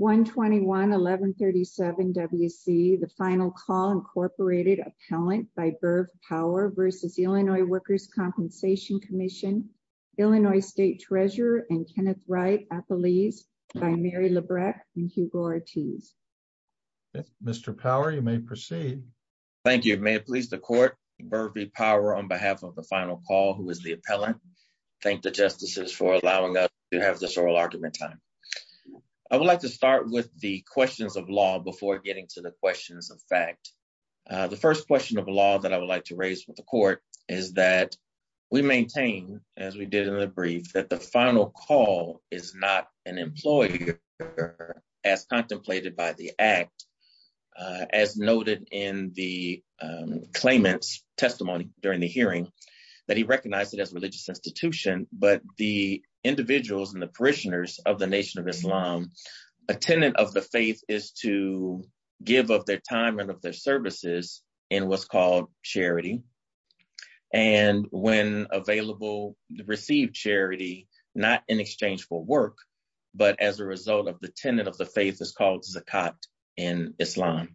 121-1137 W.C. The Final Call, Inc. Appellant by Berv Power v. Illinois Workers' Compensation Comm'n, Illinois State Treasurer and Kenneth Wright, Appellees by Mary Labreck and Hugo Ortiz. Mr. Power, you may proceed. Thank you. May it please the Court, Bervy Power on behalf of The Final Call, who is the appellant, thank the Justices for allowing us this oral argument time. I would like to start with the questions of law before getting to the questions of fact. The first question of law that I would like to raise with the Court is that we maintain, as we did in the brief, that The Final Call is not an employer as contemplated by the Act as noted in the claimant's testimony during the hearing, that he recognized it as a religious institution, but the individuals and the parishioners of the Nation of Islam, a tenet of the faith is to give of their time and of their services in what's called charity, and when available, receive charity, not in exchange for work, but as a result of the tenet of the faith is called zakat in Islam.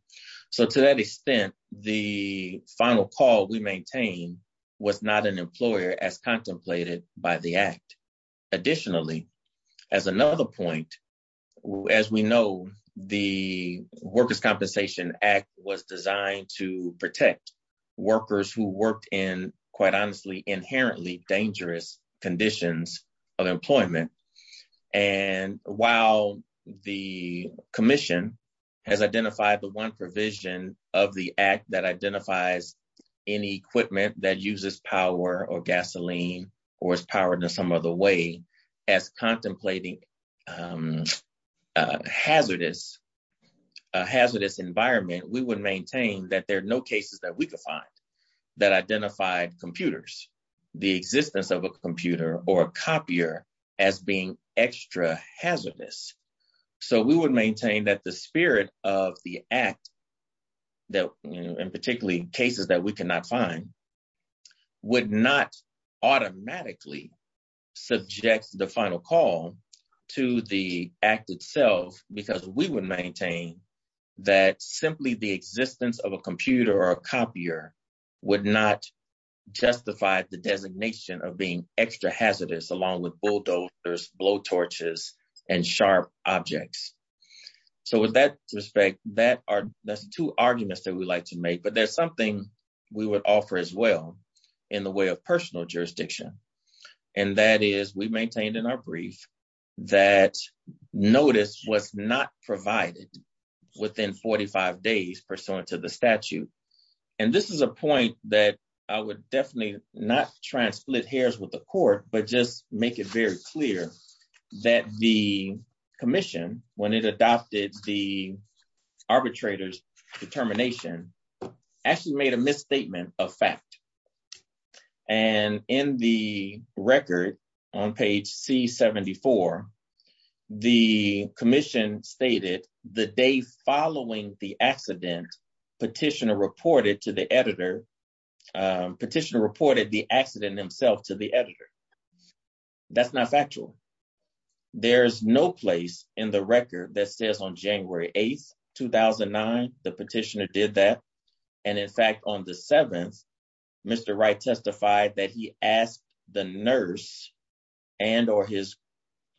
So to that extent, The Final Call we maintain was not an employer as contemplated by the Act. Additionally, as another point, as we know, the Workers' Compensation Act was designed to protect workers who worked in, quite honestly, inherently dangerous conditions of employment, and while the Commission has identified the one provision of the Act that or is powered in some other way as contemplating a hazardous environment, we would maintain that there are no cases that we could find that identified computers, the existence of a computer or a copier as being extra hazardous. So we would maintain that the spirit of the Act, that in particularly cases that we cannot find, would not automatically subject The Final Call to the Act itself, because we would maintain that simply the existence of a computer or a copier would not justify the designation of being extra hazardous, along with bulldozers, blow torches, and sharp objects. So with that respect, that's two arguments that we'd like to make, but there's something we would offer as well in the way of personal jurisdiction, and that is we maintained in our brief that notice was not provided within 45 days pursuant to the statute, and this is a point that I would definitely not try and split hairs with the Court, but just make it very clear that the Commission, when it adopted the arbitrator's determination, actually made a misstatement of fact, and in the record on page C-74, the Commission stated the day following the accident, Petitioner reported to the editor, Petitioner reported the accident himself to the there's no place in the record that says on January 8th, 2009, the Petitioner did that, and in fact on the 7th, Mr. Wright testified that he asked the nurse and or his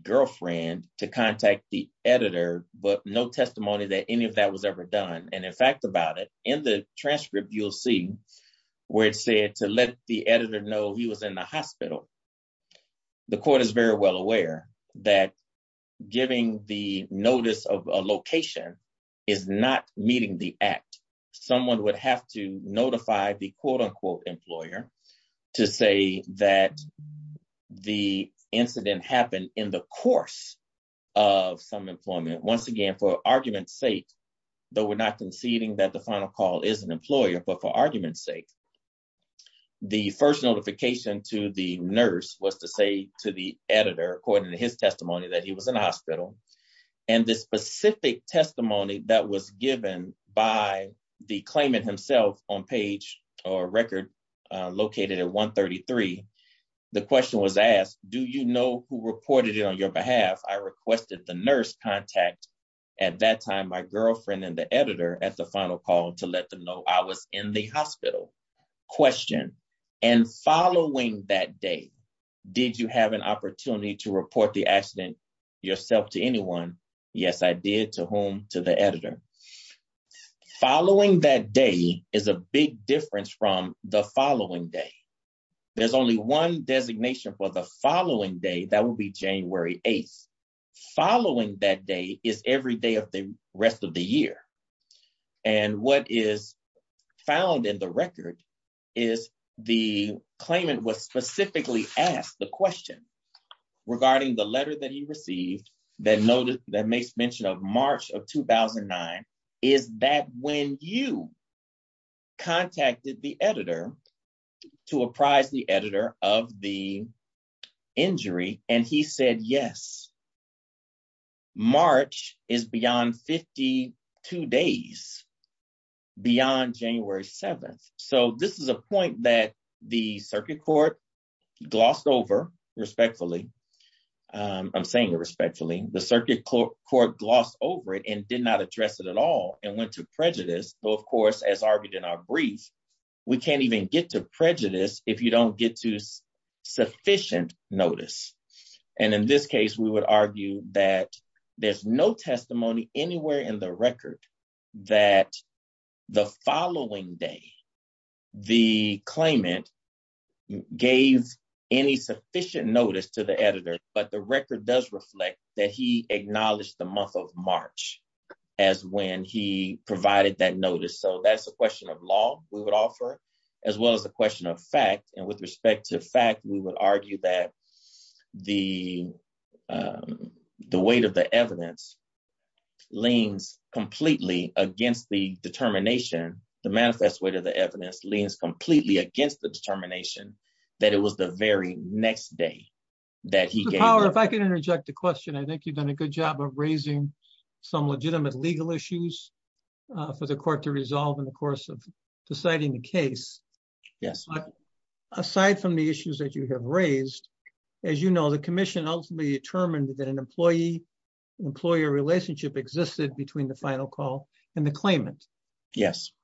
girlfriend to contact the editor, but no testimony that any of that was ever done, and in fact about it, in the transcript you'll see where it said to let the editor know he was in the hospital, the Court is very well aware that giving the notice of a location is not meeting the act, someone would have to notify the quote-unquote employer to say that the incident happened in the course of some employment, once again for argument's sake, though we're not conceding that Final Call is an employer, but for argument's sake, the first notification to the nurse was to say to the editor, according to his testimony, that he was in the hospital, and the specific testimony that was given by the claimant himself on page or record located at 133, the question was asked, do you know who reported it on your behalf? I requested the nurse contact at that time, my girlfriend and the editor at the Final Call to let them know I was in the hospital, question, and following that day, did you have an opportunity to report the accident yourself to anyone? Yes I did, to whom? To the editor. Following that day is a big difference from the following day, there's only one designation for the following day, that would be January 8th, following that day is every day of the rest of the year, and what is found in the record is the claimant was specifically asked the question regarding the letter that he received that makes mention of March of 2009, is that when you contacted the editor to apprise the editor of the injury and he said yes, March is beyond 52 days beyond January 7th, so this is a point that the circuit court glossed over respectfully, I'm saying it respectfully, the circuit court glossed over it and did not address it at all and went to prejudice, though of course as argued in our brief, we can't even get to prejudice if you don't get to sufficient notice, and in this case we would argue that there's no testimony anywhere in the record that the following day the claimant gave any sufficient notice to the editor, but the provided that notice, so that's the question of law we would offer, as well as the question of fact, and with respect to fact we would argue that the weight of the evidence leans completely against the determination, the manifest weight of the evidence leans completely against the determination that it was the very next day that he gave, if I can interject a for the court to resolve in the course of deciding the case, but aside from the issues that you have raised, as you know the commission ultimately determined that an employee-employer relationship existed between the final call and the claimant,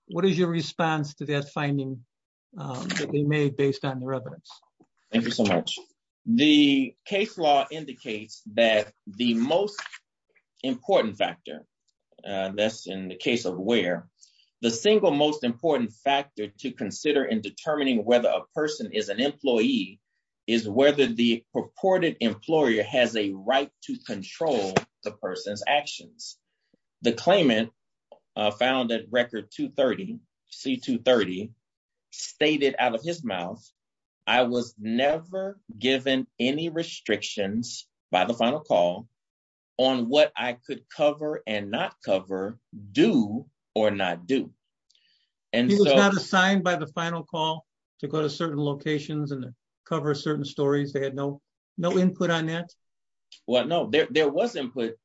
what is your response to that finding that they made based on the evidence? Thank you so much, the case law indicates that the most important factor, that's in the case of Ware, the single most important factor to consider in determining whether a person is an employee is whether the purported employer has a right to control the person's actions. The claimant found that record 230, C-230, stated out of his mouth I was never given any restrictions by the final call on what I could cover and not cover do or not do. He was not assigned by the final call to go to certain locations and cover certain stories, they had no input on that? Well no, there was input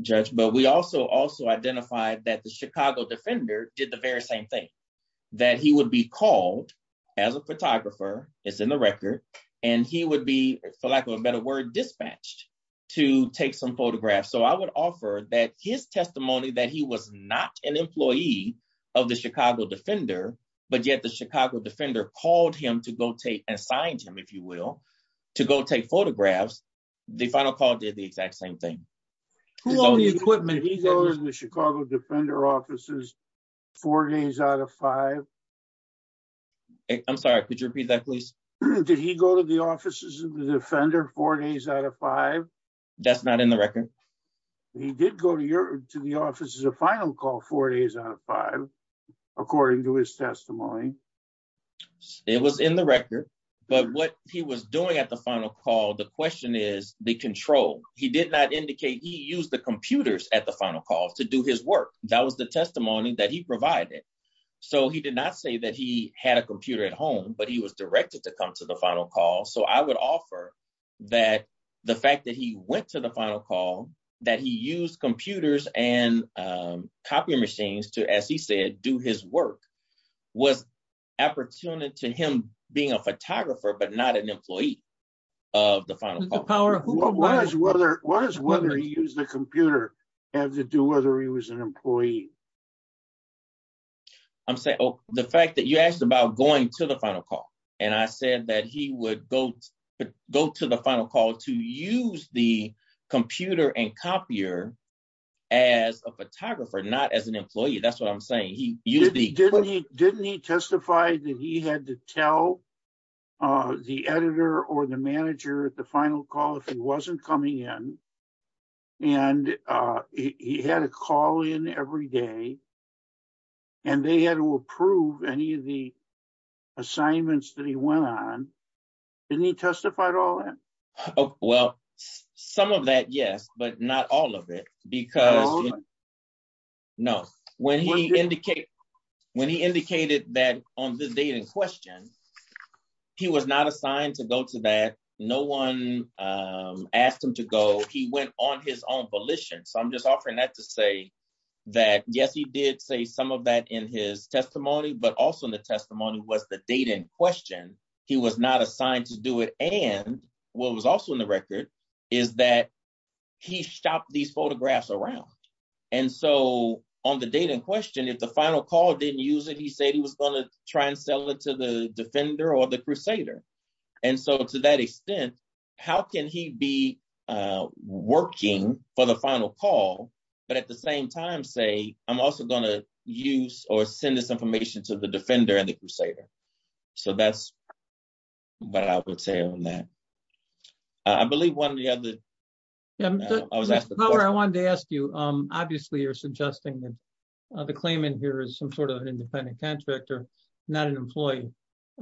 judge, but we also also identified that Chicago Defender did the very same thing, that he would be called as a photographer, it's in the record, and he would be for lack of a better word dispatched to take some photographs, so I would offer that his testimony that he was not an employee of the Chicago Defender, but yet the Chicago Defender called him to go take, assigned him if you will, to go take photographs, the final call did the exact same thing. Did he go to the Chicago Defender offices four days out of five? I'm sorry, could you repeat that please? Did he go to the offices of the Defender four days out of five? That's not in the record. He did go to your to the offices of final call four days out of five, according to his testimony. It was in the record, but what he was doing at the final call, the question is the control. He did not indicate he used the computers at the final call to do his work. That was the testimony that he provided, so he did not say that he had a computer at home, but he was directed to come to the final call, so I would offer that the fact that he went to the final call, that he used computers and do his work, was opportune to him being a photographer, but not an employee of the final call. What does whether he used the computer have to do whether he was an employee? I'm saying the fact that you asked about going to the final call, and I said that he would go to the final call to use the computer and copier as a photographer, not as an employee, that's what I'm saying. Didn't he testify that he had to tell the editor or the manager at the final call if he wasn't coming in, and he had a call in every day, and they had to approve any of the assignments that he went on. Didn't he testify to all that? Well, some of that, yes, but not all of it, because when he indicated that on the date in question, he was not assigned to go to that, no one asked him to go, he went on his own volition, so I'm just offering that to say that, yes, he did say some of that in his testimony, but also in the testimony was the date in question, he was not assigned to do it, and what was also in the record is that he shopped these photographs around, and so on the date in question, if the final call didn't use it, he said he was going to try and sell it to the Defender or the Crusader, and so to that extent, how can he be working for the final call, but at the same time say, I'm also going to use or send this information to the Defender and the Crusader, so that's what I would say on that. I believe one of the other, I wanted to ask you, obviously, you're suggesting that the claimant here is some sort of an independent contractor, not an employee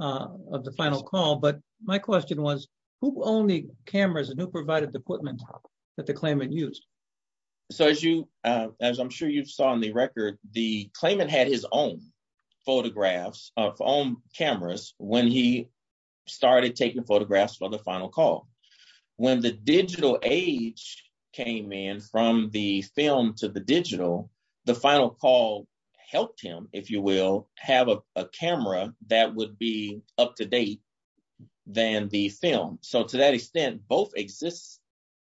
of the final call, but my question was, who owned the cameras and who provided the equipment that the claimant used? So, as you, as I'm sure you saw in the record, the claimant had his own photographs of own cameras when he started taking photographs for the final call. When the digital age came in, from the film to the digital, the final call helped him, if you will, have a camera that would be up to date than the film, so to that extent, both exist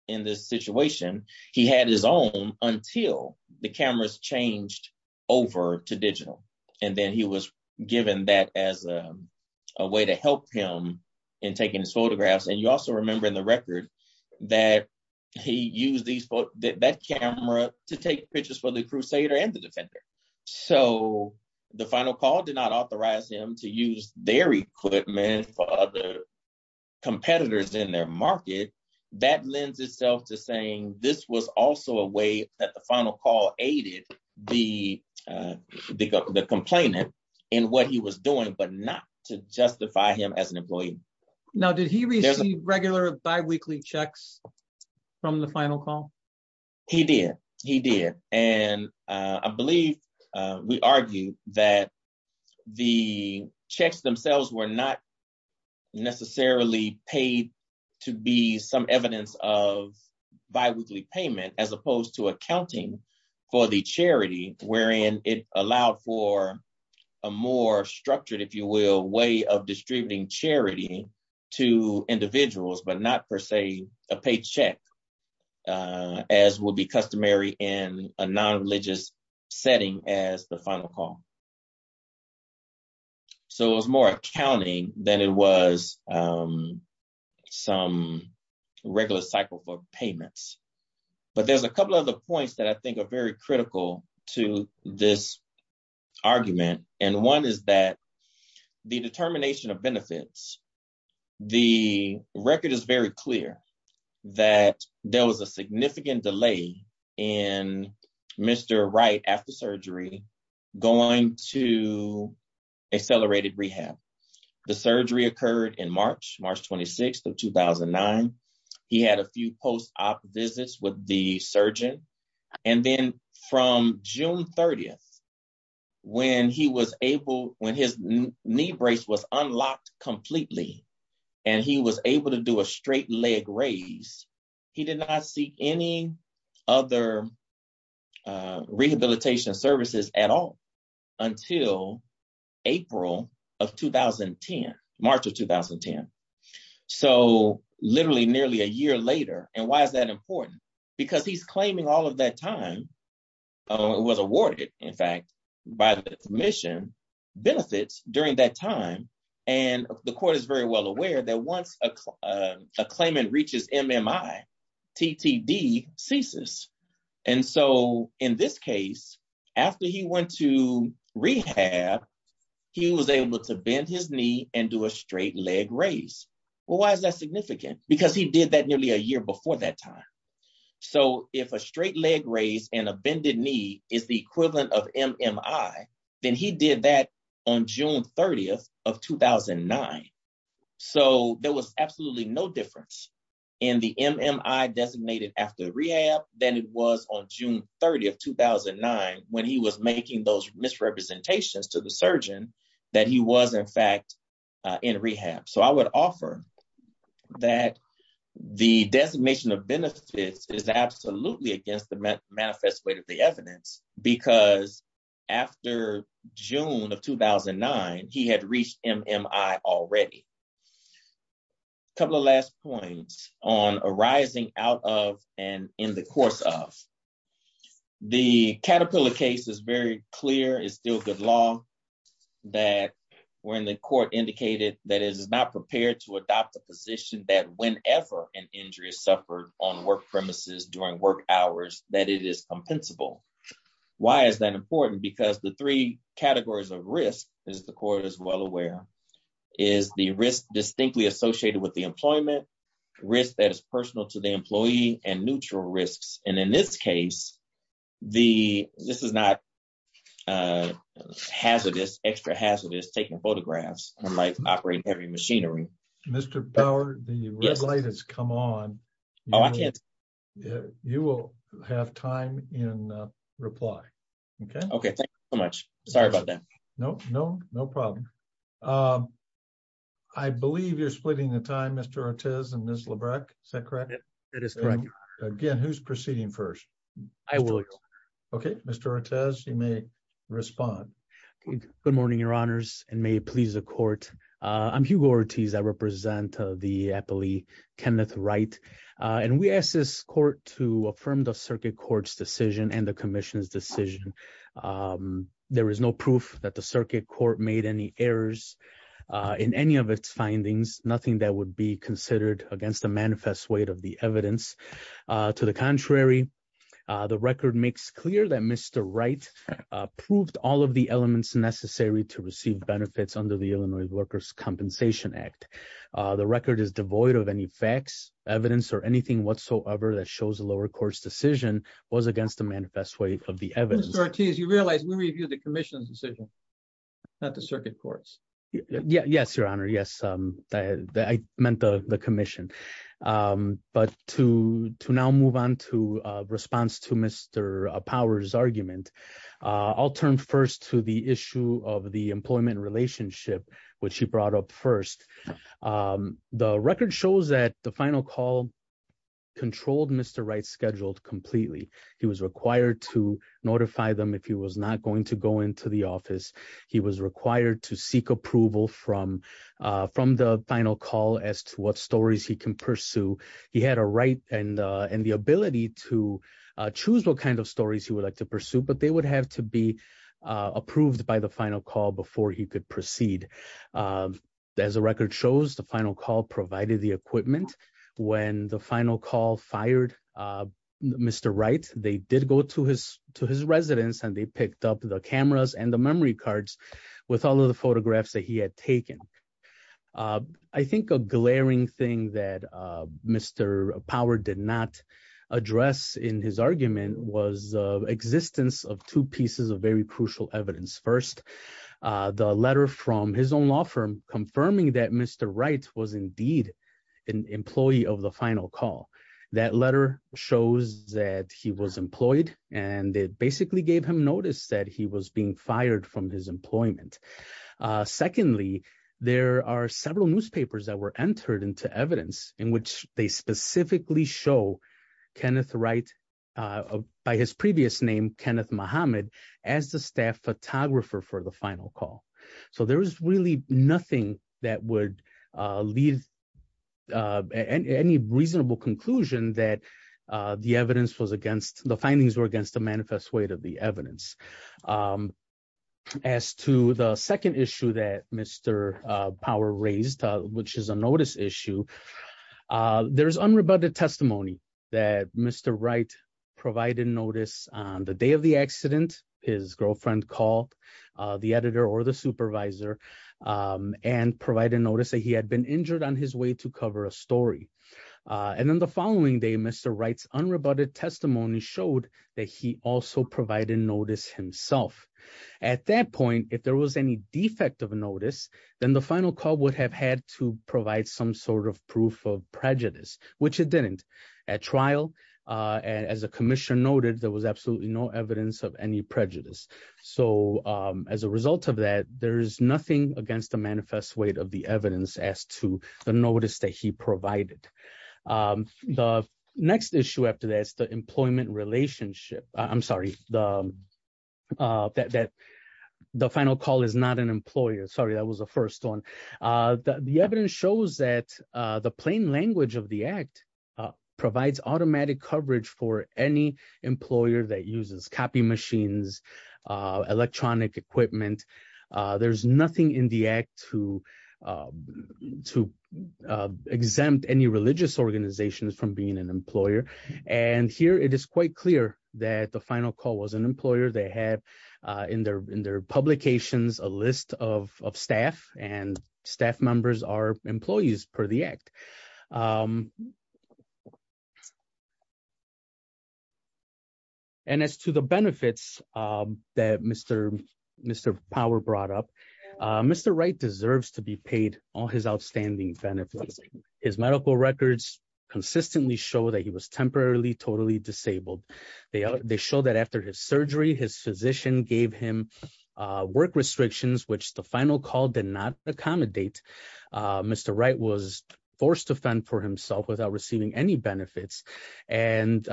in this situation. He had his own until the cameras changed over to digital, and then he was given that as a way to help him in taking his photographs, and you also remember in the record that he used that camera to take pictures for the Crusader and the Defender, so the final call did not authorize him to use their equipment for other competitors in their complainant in what he was doing, but not to justify him as an employee. Now, did he receive regular bi-weekly checks from the final call? He did, he did, and I believe we argued that the checks themselves were not necessarily paid to be some evidence of bi-weekly payment as opposed to accounting for the charity, wherein it allowed for a more structured, if you will, way of distributing charity to individuals, but not per se a paycheck, as would be customary in a non-religious setting as the final call, so it was more accounting than it was some regular cycle for payments, but there's a couple other points that I think are very critical to this argument, and one is that the determination of benefits, the record is very clear that there was a significant delay in Mr. Wright after surgery going to accelerated rehab. The surgery occurred in March, March 26th of 2009. He had a few post-op visits with the surgeon, and then from June 30th, when he was able, when his knee brace was unlocked completely, and he was able to do a straight leg raise, he did not see any other rehabilitation services at all until April of 2010, March of 2010, so literally nearly a year later, and why is that important? Because he's claiming all of that time, it was awarded, in fact, by the commission benefits during that time, and the court is very well aware that once a claimant reaches MMI, TTD ceases, and so in this case, after he went to rehab, he was able to bend his knee and do a straight leg raise. Well, why is that significant? Because he did that nearly a year before that time, so if a straight leg raise and a bended knee is the equivalent of MMI, then he did that on June 30th of 2009, so there was absolutely no difference in the MMI designated after rehab than it was on June 30th, 2009, when he was making those misrepresentations to the surgeon that he was, in fact, in rehab, so I would offer that the because after June of 2009, he had reached MMI already. A couple of last points on arising out of and in the course of. The Caterpillar case is very clear, it's still good law that when the court indicated that it is not prepared to adopt a position that whenever an injury is suffered on work premises during work hours that it is compensable. Why is that important? Because the three categories of risk, as the court is well aware, is the risk distinctly associated with the employment, risk that is personal to the employee, and neutral risks, and in this case, this is not hazardous, extra hazardous, taking photographs, unlike operating heavy machinery. Mr. Power, the red light has come on. Oh, I can't. You will have time in reply, OK? OK, thank you so much. Sorry about that. No, no, no problem. I believe you're splitting the time, Mr. Ortiz and Ms. Labreck, is that correct? It is correct. Again, who's proceeding first? I will. OK, Mr. Ortiz, you may respond. Good morning, your honors, and may it please the court. I'm Hugo Ortiz, I represent the appellee Kenneth Wright, and we ask this court to affirm the circuit court's decision and the commission's decision. There is no proof that the circuit court made any errors in any of its findings, nothing that would be considered against the manifest weight of the evidence. To the contrary, the record makes clear that Mr. Wright proved all of the elements necessary to receive benefits under the Illinois Workers' Compensation Act. The record is devoid of any facts, evidence, or anything whatsoever that shows the lower court's decision was against the manifest weight of the evidence. Mr. Ortiz, you realize we review the commission's decision, not the circuit court's? Yes, your honor, yes, I meant the commission. But to now move on to response to Mr. Power's argument, I'll turn first to the issue of the employment relationship, which you brought up first. The record shows that the final call controlled Mr. Wright's office. He was required to seek approval from the final call as to what stories he can pursue. He had a right and the ability to choose what kind of stories he would like to pursue, but they would have to be approved by the final call before he could proceed. As the record shows, the final call provided the equipment. When the final call fired Mr. Wright, they did go to his residence and they picked up the cameras and the memory cards with all of the photographs that he had taken. I think a glaring thing that Mr. Power did not address in his argument was the existence of two pieces of very crucial evidence. First, the letter from his own law firm confirming that Mr. Wright was indeed an employee of the final call. That letter shows that he was employed and it basically gave him notice that he was being fired from his employment. Secondly, there are several newspapers that were entered into evidence in which they specifically show Kenneth Wright by his previous name, Kenneth Muhammad, as the staff photographer for the final call. So there was really nothing that would leave any reasonable conclusion that the findings were against the manifest weight of the evidence. As to the second issue that Mr. Power raised, which is a notice issue, there's unrebutted testimony that Mr. Wright provided notice on the day of the accident. His girlfriend called the editor or the supervisor and provided notice that he had been injured on his way to cover a story. And then the following day, Mr. Wright's unrebutted testimony showed that he also provided notice himself. At that point, if there was any defect of notice, then the final call would have had to provide some sort of proof of prejudice, which it didn't. At trial, as the commission noted, there was absolutely no evidence of any prejudice. So as a result of that, there is nothing against the manifest weight of the evidence as to the notice that he provided. The next issue after that is the employment relationship. I'm sorry, the final call is not an employer. Sorry, that was the first one. The evidence shows that the plain language of the act provides automatic coverage for any employer that uses copy machines, electronic equipment. There's nothing in the act to to exempt any religious organizations from being an employer. And here it is quite clear that the and staff members are employees per the act. And as to the benefits that Mr. Power brought up, Mr. Wright deserves to be paid all his outstanding benefits. His medical records consistently show that he was temporarily totally disabled. They show that after his surgery, his physician gave him work restrictions, which the final call did not accommodate. Mr. Wright was forced to fend for himself without receiving any benefits. And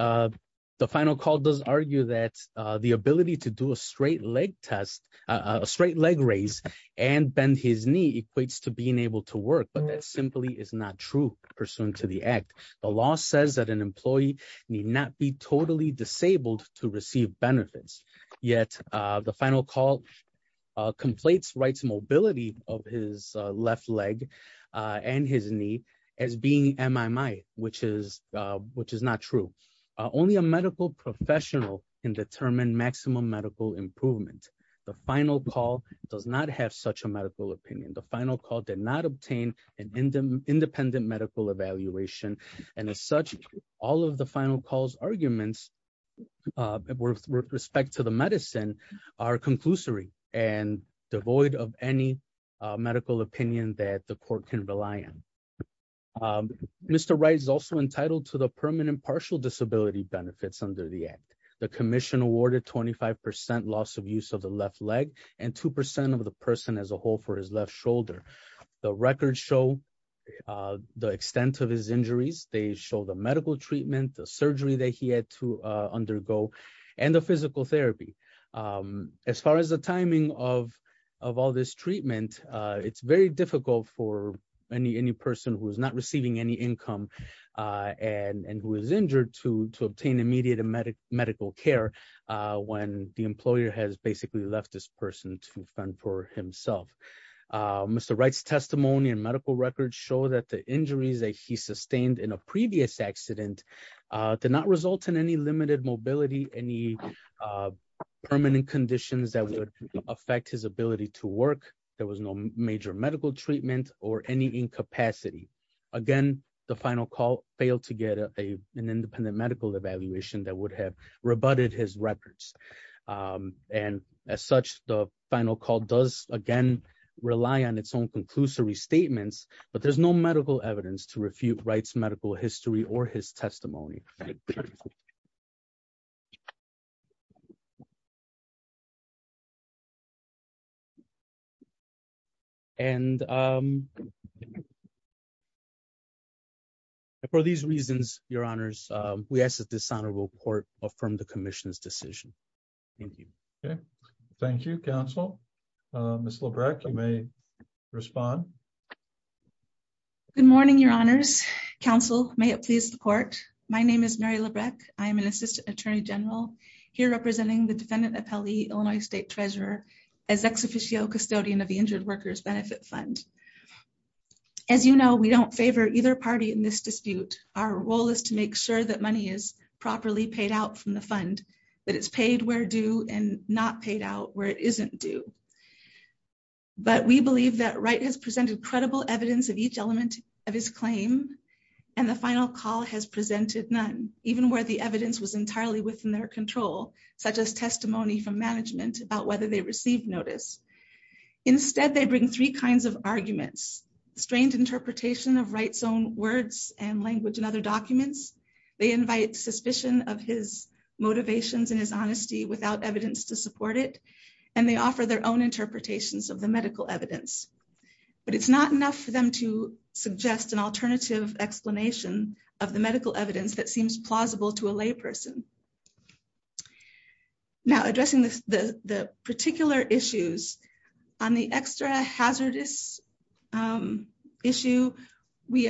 the final call does argue that the ability to do a straight leg test, a straight leg raise and bend his knee equates to being able to work. But that simply is not true pursuant to the act. The law says that an employee need not be totally disabled to receive benefits. Yet the final call complates Wright's mobility of his left leg and his knee as being MMI, which is not true. Only a medical professional can determine maximum medical improvement. The final call does not have such a medical opinion. The final call did not obtain an independent medical evaluation. And as such, all of the final calls arguments with respect to the medicine are conclusory and devoid of any medical opinion that the court can rely on. Mr. Wright is also entitled to the permanent partial disability benefits under the act. The commission awarded 25% loss of use of the left leg and 2% of the person as a whole for his injuries. They show the medical treatment, the surgery that he had to undergo and the physical therapy. As far as the timing of all this treatment, it's very difficult for any person who is not receiving any income and who is injured to obtain immediate medical care when the employer has basically left this person to fend for himself. Mr. Wright's testimony and medical records show that the injuries that he sustained in a previous accident did not result in any limited mobility, any permanent conditions that would affect his ability to work. There was no major medical treatment or any incapacity. Again, the final call failed to get an independent medical evaluation that would have rebutted his records. And as such, the final call does again rely on its own conclusory statements, but there's no medical evidence to refute Wright's medical history or his testimony. And for these reasons, your honors, we ask that this honorable court affirm the commission's decision. Thank you. Okay. Thank you, counsel. Ms. Lebrecht, you may respond. Good morning, your honors. Counsel, may it please the court. My name is Mary Lebrecht. I am an assistant attorney general here representing the defendant appellee, Illinois state treasurer as ex officio custodian of the injured workers benefit fund. As you know, we don't favor either party in this dispute. Our role is to make sure that money is properly paid out from the fund, that it's paid where due and not paid out where it isn't due. But we believe that Wright has presented credible evidence of each element of his claim. And the final call has presented none, even where the evidence was entirely within their control, such as testimony from management about whether they received notice. Instead, they bring three kinds of arguments, strained interpretation of Wright's own words and language and other documents. They invite suspicion of his motivations and his honesty without evidence to support it. And they offer their own interpretations of the medical evidence. But it's not enough for them to suggest an alternative explanation of the medical evidence that seems plausible to a lay person. Now addressing the particular issues on the extra hazardous issue, we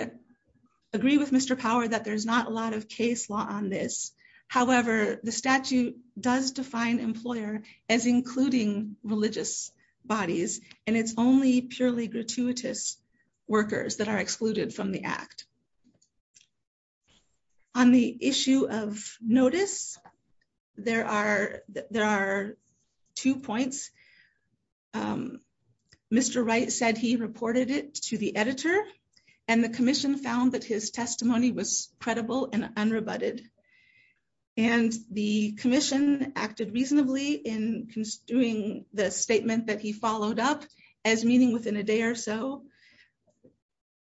agree with Mr. Power that there's not a lot of case law on this. However, the statute does define employer as including religious bodies, and it's only purely gratuitous workers that are excluded from the act. On the issue of notice, there are there are two points. Mr. Wright said he reported it to the editor. And the commission found that his testimony was credible and unrebutted. And the commission acted reasonably in doing the statement that he followed up as meaning within a day or so.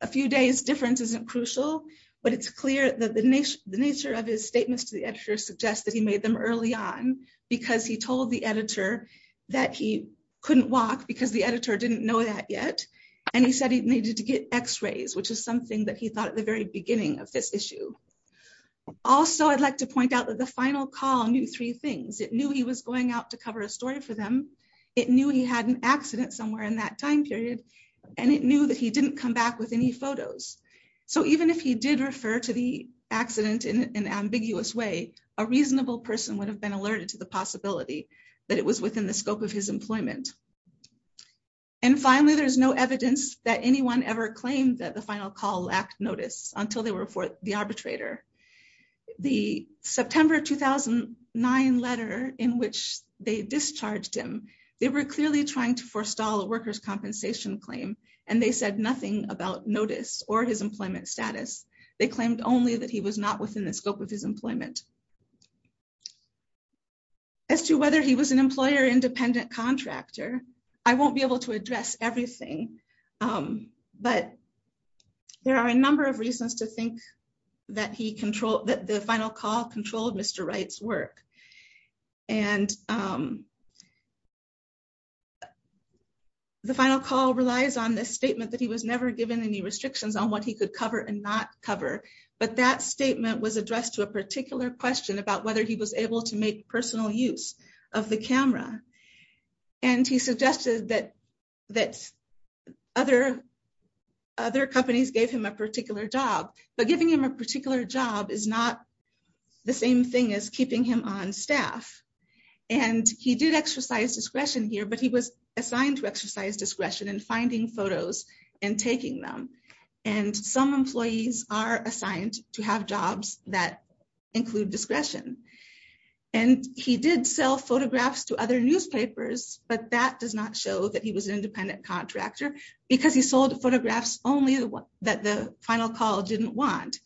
A few days difference isn't crucial, but it's clear that the nature of his statements to the editor suggests that he made them early on, because he told the editor that he couldn't walk because the editor didn't know that yet. And he said he needed to get x rays, which is something that he thought at the very beginning of this issue. Also, I'd like to point out that the final call knew three things. It knew he was going out to cover a story for them. It knew he had an accident somewhere in that time period. And it knew that he didn't come back with any photos. So even if he did refer to the accident in an ambiguous way, a reasonable person would have been alerted to the possibility that it was within the scope of his employment. And finally, there's no evidence that anyone ever claimed that final call lack notice until they were for the arbitrator. The September 2009 letter in which they discharged him, they were clearly trying to forestall a workers compensation claim. And they said nothing about notice or his employment status. They claimed only that he was not within the scope of his employment. As to whether he was an employer independent contractor, I won't be there are a number of reasons to think that he controlled that the final call controlled Mr. Wright's work. And the final call relies on this statement that he was never given any restrictions on what he could cover and not cover. But that statement was addressed to a particular question about whether he was able to make personal use of the camera. And he suggested that that other other companies gave him a particular job, but giving him a particular job is not the same thing as keeping him on staff. And he did exercise discretion here, but he was assigned to exercise discretion and finding photos and taking them. And some employees are assigned to have jobs that include discretion. And he did sell photographs to other newspapers, but that does show that he was an independent contractor, because he sold photographs only that the final call didn't want.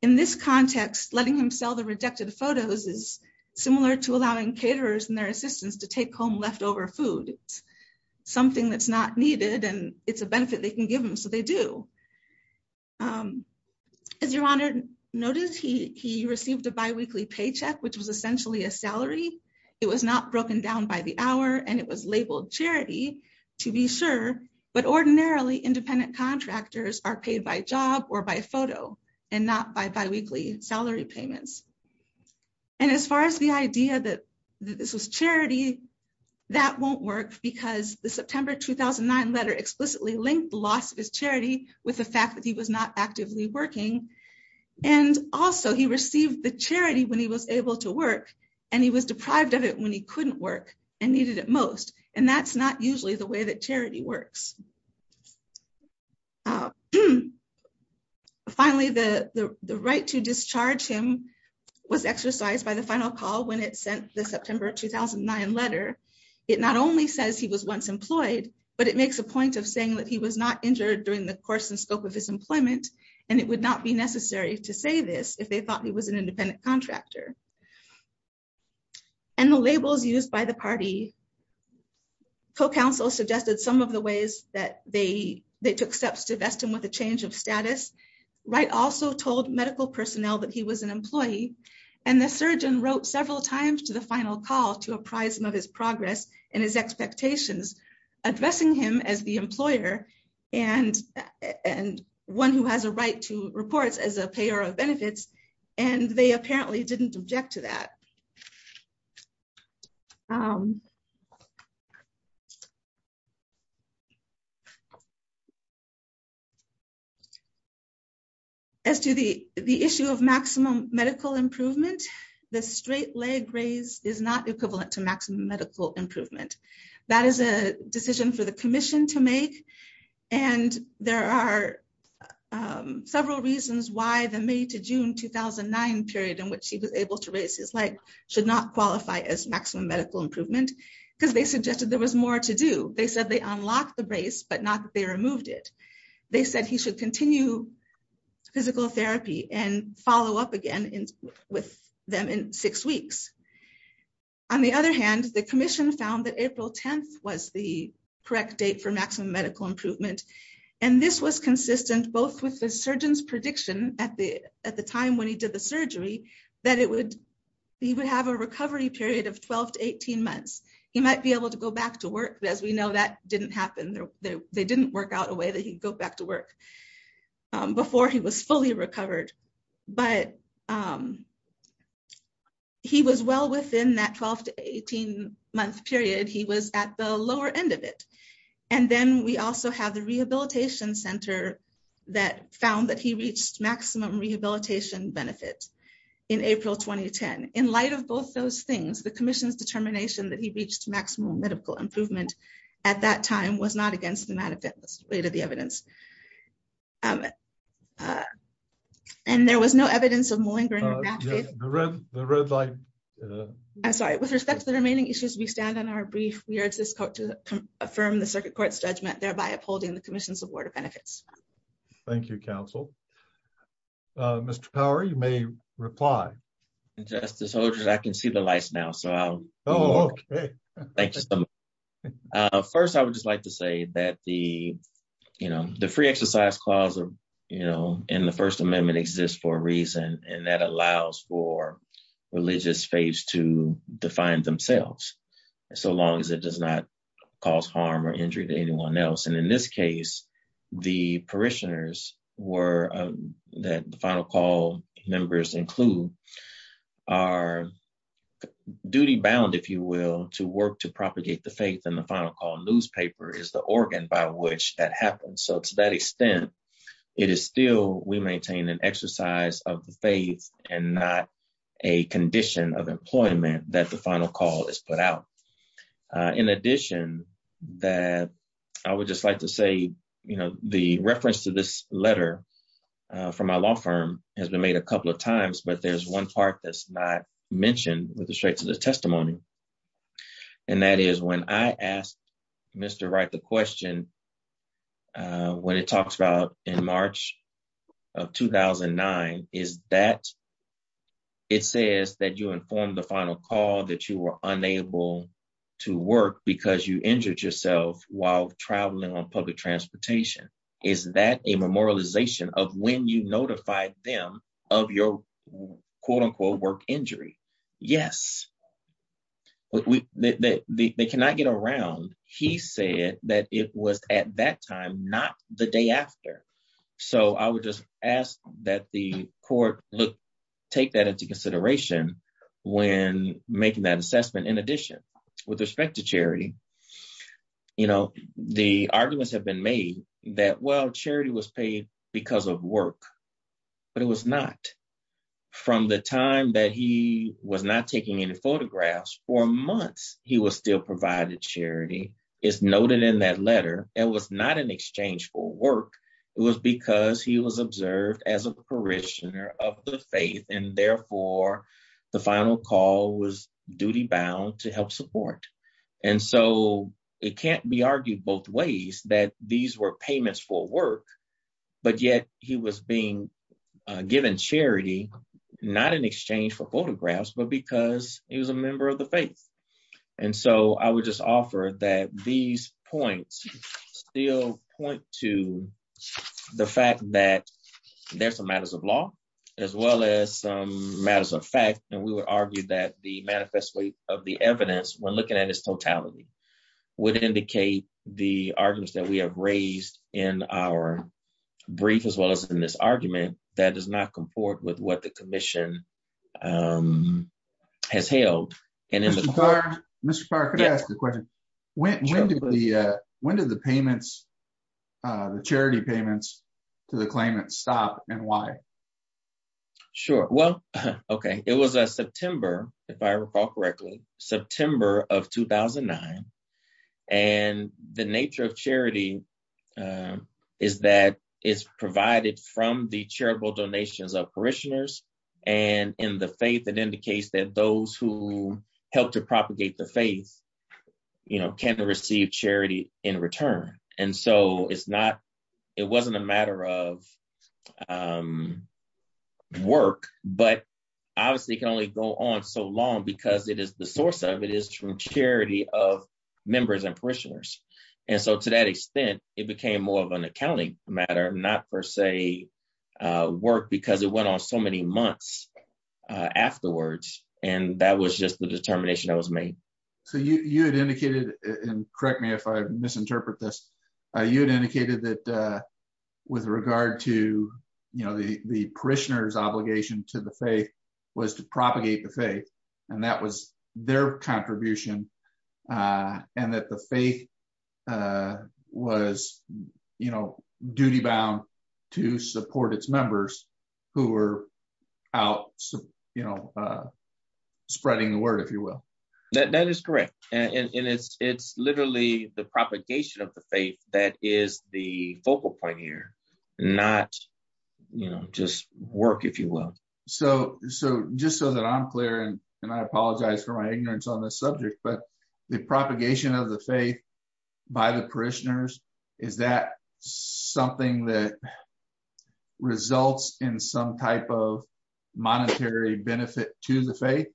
In this context, letting him sell the rejected photos is similar to allowing caterers and their assistants to take home leftover food, something that's not needed, and it's a benefit they can give them. So they do. As your honor, notice he received a biweekly paycheck, which was essentially a salary. It was not broken down by the hour and it was labeled charity, to be sure, but ordinarily independent contractors are paid by job or by photo and not by biweekly salary payments. And as far as the idea that this was charity, that won't work because the September 2009 letter explicitly linked the loss of his charity with the fact that he was not actively working. And also he received the charity when he was able to work, and he was deprived of when he couldn't work and needed it most. And that's not usually the way that charity works. Finally, the right to discharge him was exercised by the final call when it sent the September 2009 letter. It not only says he was once employed, but it makes a point of saying that he was not injured during the course and scope of his employment. And it would not be necessary to say this if they thought he was an independent contractor. And the labels used by the party co-counsel suggested some of the ways that they took steps to vest him with a change of status. Wright also told medical personnel that he was an employee, and the surgeon wrote several times to the final call to apprise him of his progress and his expectations, addressing him as the employer and one who has a right to reports as a payer of benefits. And they apparently didn't object to that. As to the issue of maximum medical improvement, the straight leg raise is not equivalent to a physical therapy. And there are several reasons why the May to June 2009 period in which he was able to raise his leg should not qualify as maximum medical improvement, because they suggested there was more to do. They said they unlocked the brace, but not that they removed it. They said he should continue physical therapy and follow up again with them in six weeks. On the other hand, the commission found that April 10th was the correct date for maximum medical improvement. And this was consistent both with the surgeon's prediction at the time when he did the surgery that he would have a recovery period of 12 to 18 months. He might be able to go back to work. As we know, that didn't happen. They didn't work out a way that he'd go back to work before he was fully recovered. But he was well within that 12 to 18 month period. He was at the lower end of it. And then we also have the rehabilitation center that found that he reached maximum rehabilitation benefits in April 2010. In light of both those things, the commission's determination that he reached maximum medical improvement at that time was not against the evidence. And there was no evidence of malingering. With respect to the remaining issues, we stand on our brief. We urge this court to affirm the circuit court's judgment, thereby upholding the commission's award of benefits. Thank you, counsel. Mr. Power, you may reply. Justice Holdren, I can see the lights now. First, I would just like to say that the final call allows for religious faiths to define themselves, so long as it does not cause harm or injury to anyone else. And in this case, the parishioners that the final call members include are duty-bound, if you will, to work to propagate the faith. And the final call newspaper is the organ by which that happens. So to that extent, it is still we maintain an exercise of the faith and not a condition of employment that the final call is put out. In addition, that I would just like to say, you know, the reference to this letter from my law firm has been made a couple of times, but there's one part that's not mentioned with respect to the testimony. And that is when I asked Mr. Wright the question, when it talks about in March of 2009, is that it says that you informed the final call that you were unable to work because you injured yourself while traveling on public transportation. Is that a memorialization of when you notified them of your quote-unquote work injury? Yes. They cannot get around. He said that it was at that time, not the day after. So I would just ask that the court look, take that into consideration when making that assessment. In addition, with respect to charity, you know, the arguments have been made that, well, charity was paid because of work, but it was not. From the time that he was not taking any photographs for months, he was still provided charity is noted in that letter. It was not an exchange for work. It was because he was observed as a parishioner of the faith. And therefore the final call was duty bound to help support. And so it can't be argued both ways that these were payments for work, but yet he was being given charity, not in exchange for photographs, but because he was a member of the faith. And so I would just offer that these points still point to the fact that there's some matters of law, as well as some matters of fact. And we would argue that the manifesto of the evidence when looking at its totality would indicate the arguments that we have raised in our brief, as well as in this argument that does not comport with what the commission has held. Mr. Parr, could I ask a question? When did the charity payments to the claimant stop and why? Sure. Well, okay. It was a September, if I recall correctly, September of 2009. And the nature of charity is that it's provided from the charitable donations of parishioners. And in the faith, it indicates that those who helped to propagate the faith can receive charity in return. And so it wasn't a matter of work, but obviously it can only go on so long because it is the source of, it is from charity of members and parishioners. And so to that extent, it became more of an And that was just the determination that was made. So you had indicated, and correct me if I misinterpret this, you had indicated that with regard to the parishioners obligation to the faith was to propagate the faith, and that was their contribution. And that the faith was duty bound to support its members who were out spreading the word, if you will. That is correct. And it's literally the propagation of the faith that is the focal point here, not just work, if you will. So just so that I'm clear, and I apologize for my ignorance on this subject, but the propagation of the faith by the parishioners, is that something that results in some type of monetary benefit to the faith?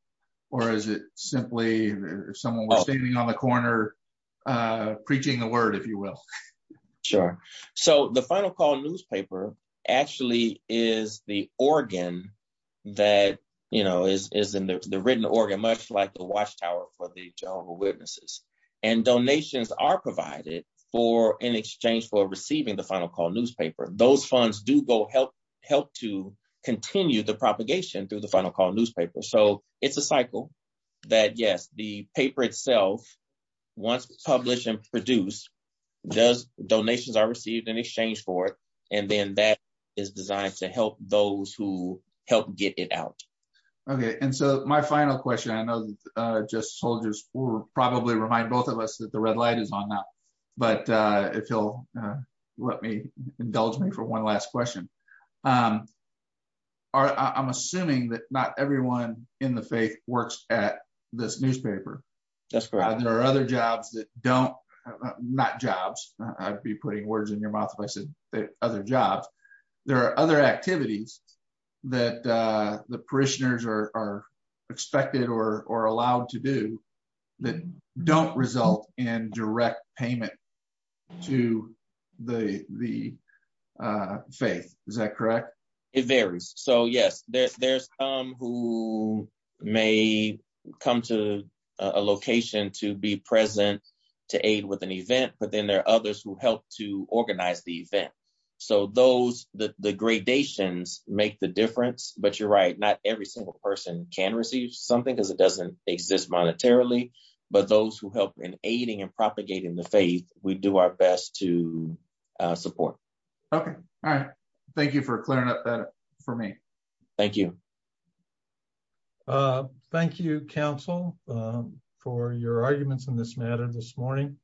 Or is it simply someone standing on the corner preaching the word, if you will? Sure. So the Final Call newspaper actually is the organ that is in the written organ, much like the Watchtower for the Jehovah's Witnesses. And donations are provided in exchange for receiving the Final Call newspaper. Those funds do go help to continue the propagation through the Final Call newspaper. So it's a cycle that, yes, the paper itself, once published and produced, donations are received in exchange for it, and then that is designed to help those who help get it out. Okay. And so my final question, I know, just soldiers will probably remind both of us that the red light is on now. But if you'll indulge me for one last question. I'm assuming that not everyone in the faith works at this newspaper. That's correct. There are other jobs that don't, not jobs, I'd be putting words in your mouth if I said other jobs. There are other activities that the parishioners are expected or allowed to do that don't result in direct payment to the faith. Is that correct? It varies. So yes, there's some who may come to a location to be present to aid with an So those the gradations make the difference. But you're right, not every single person can receive something because it doesn't exist monetarily. But those who help in aiding and propagating the faith, we do our best to support. Okay. All right. Thank you for clearing up that for me. Thank you. Thank you, counsel, for your arguments in this matter this morning.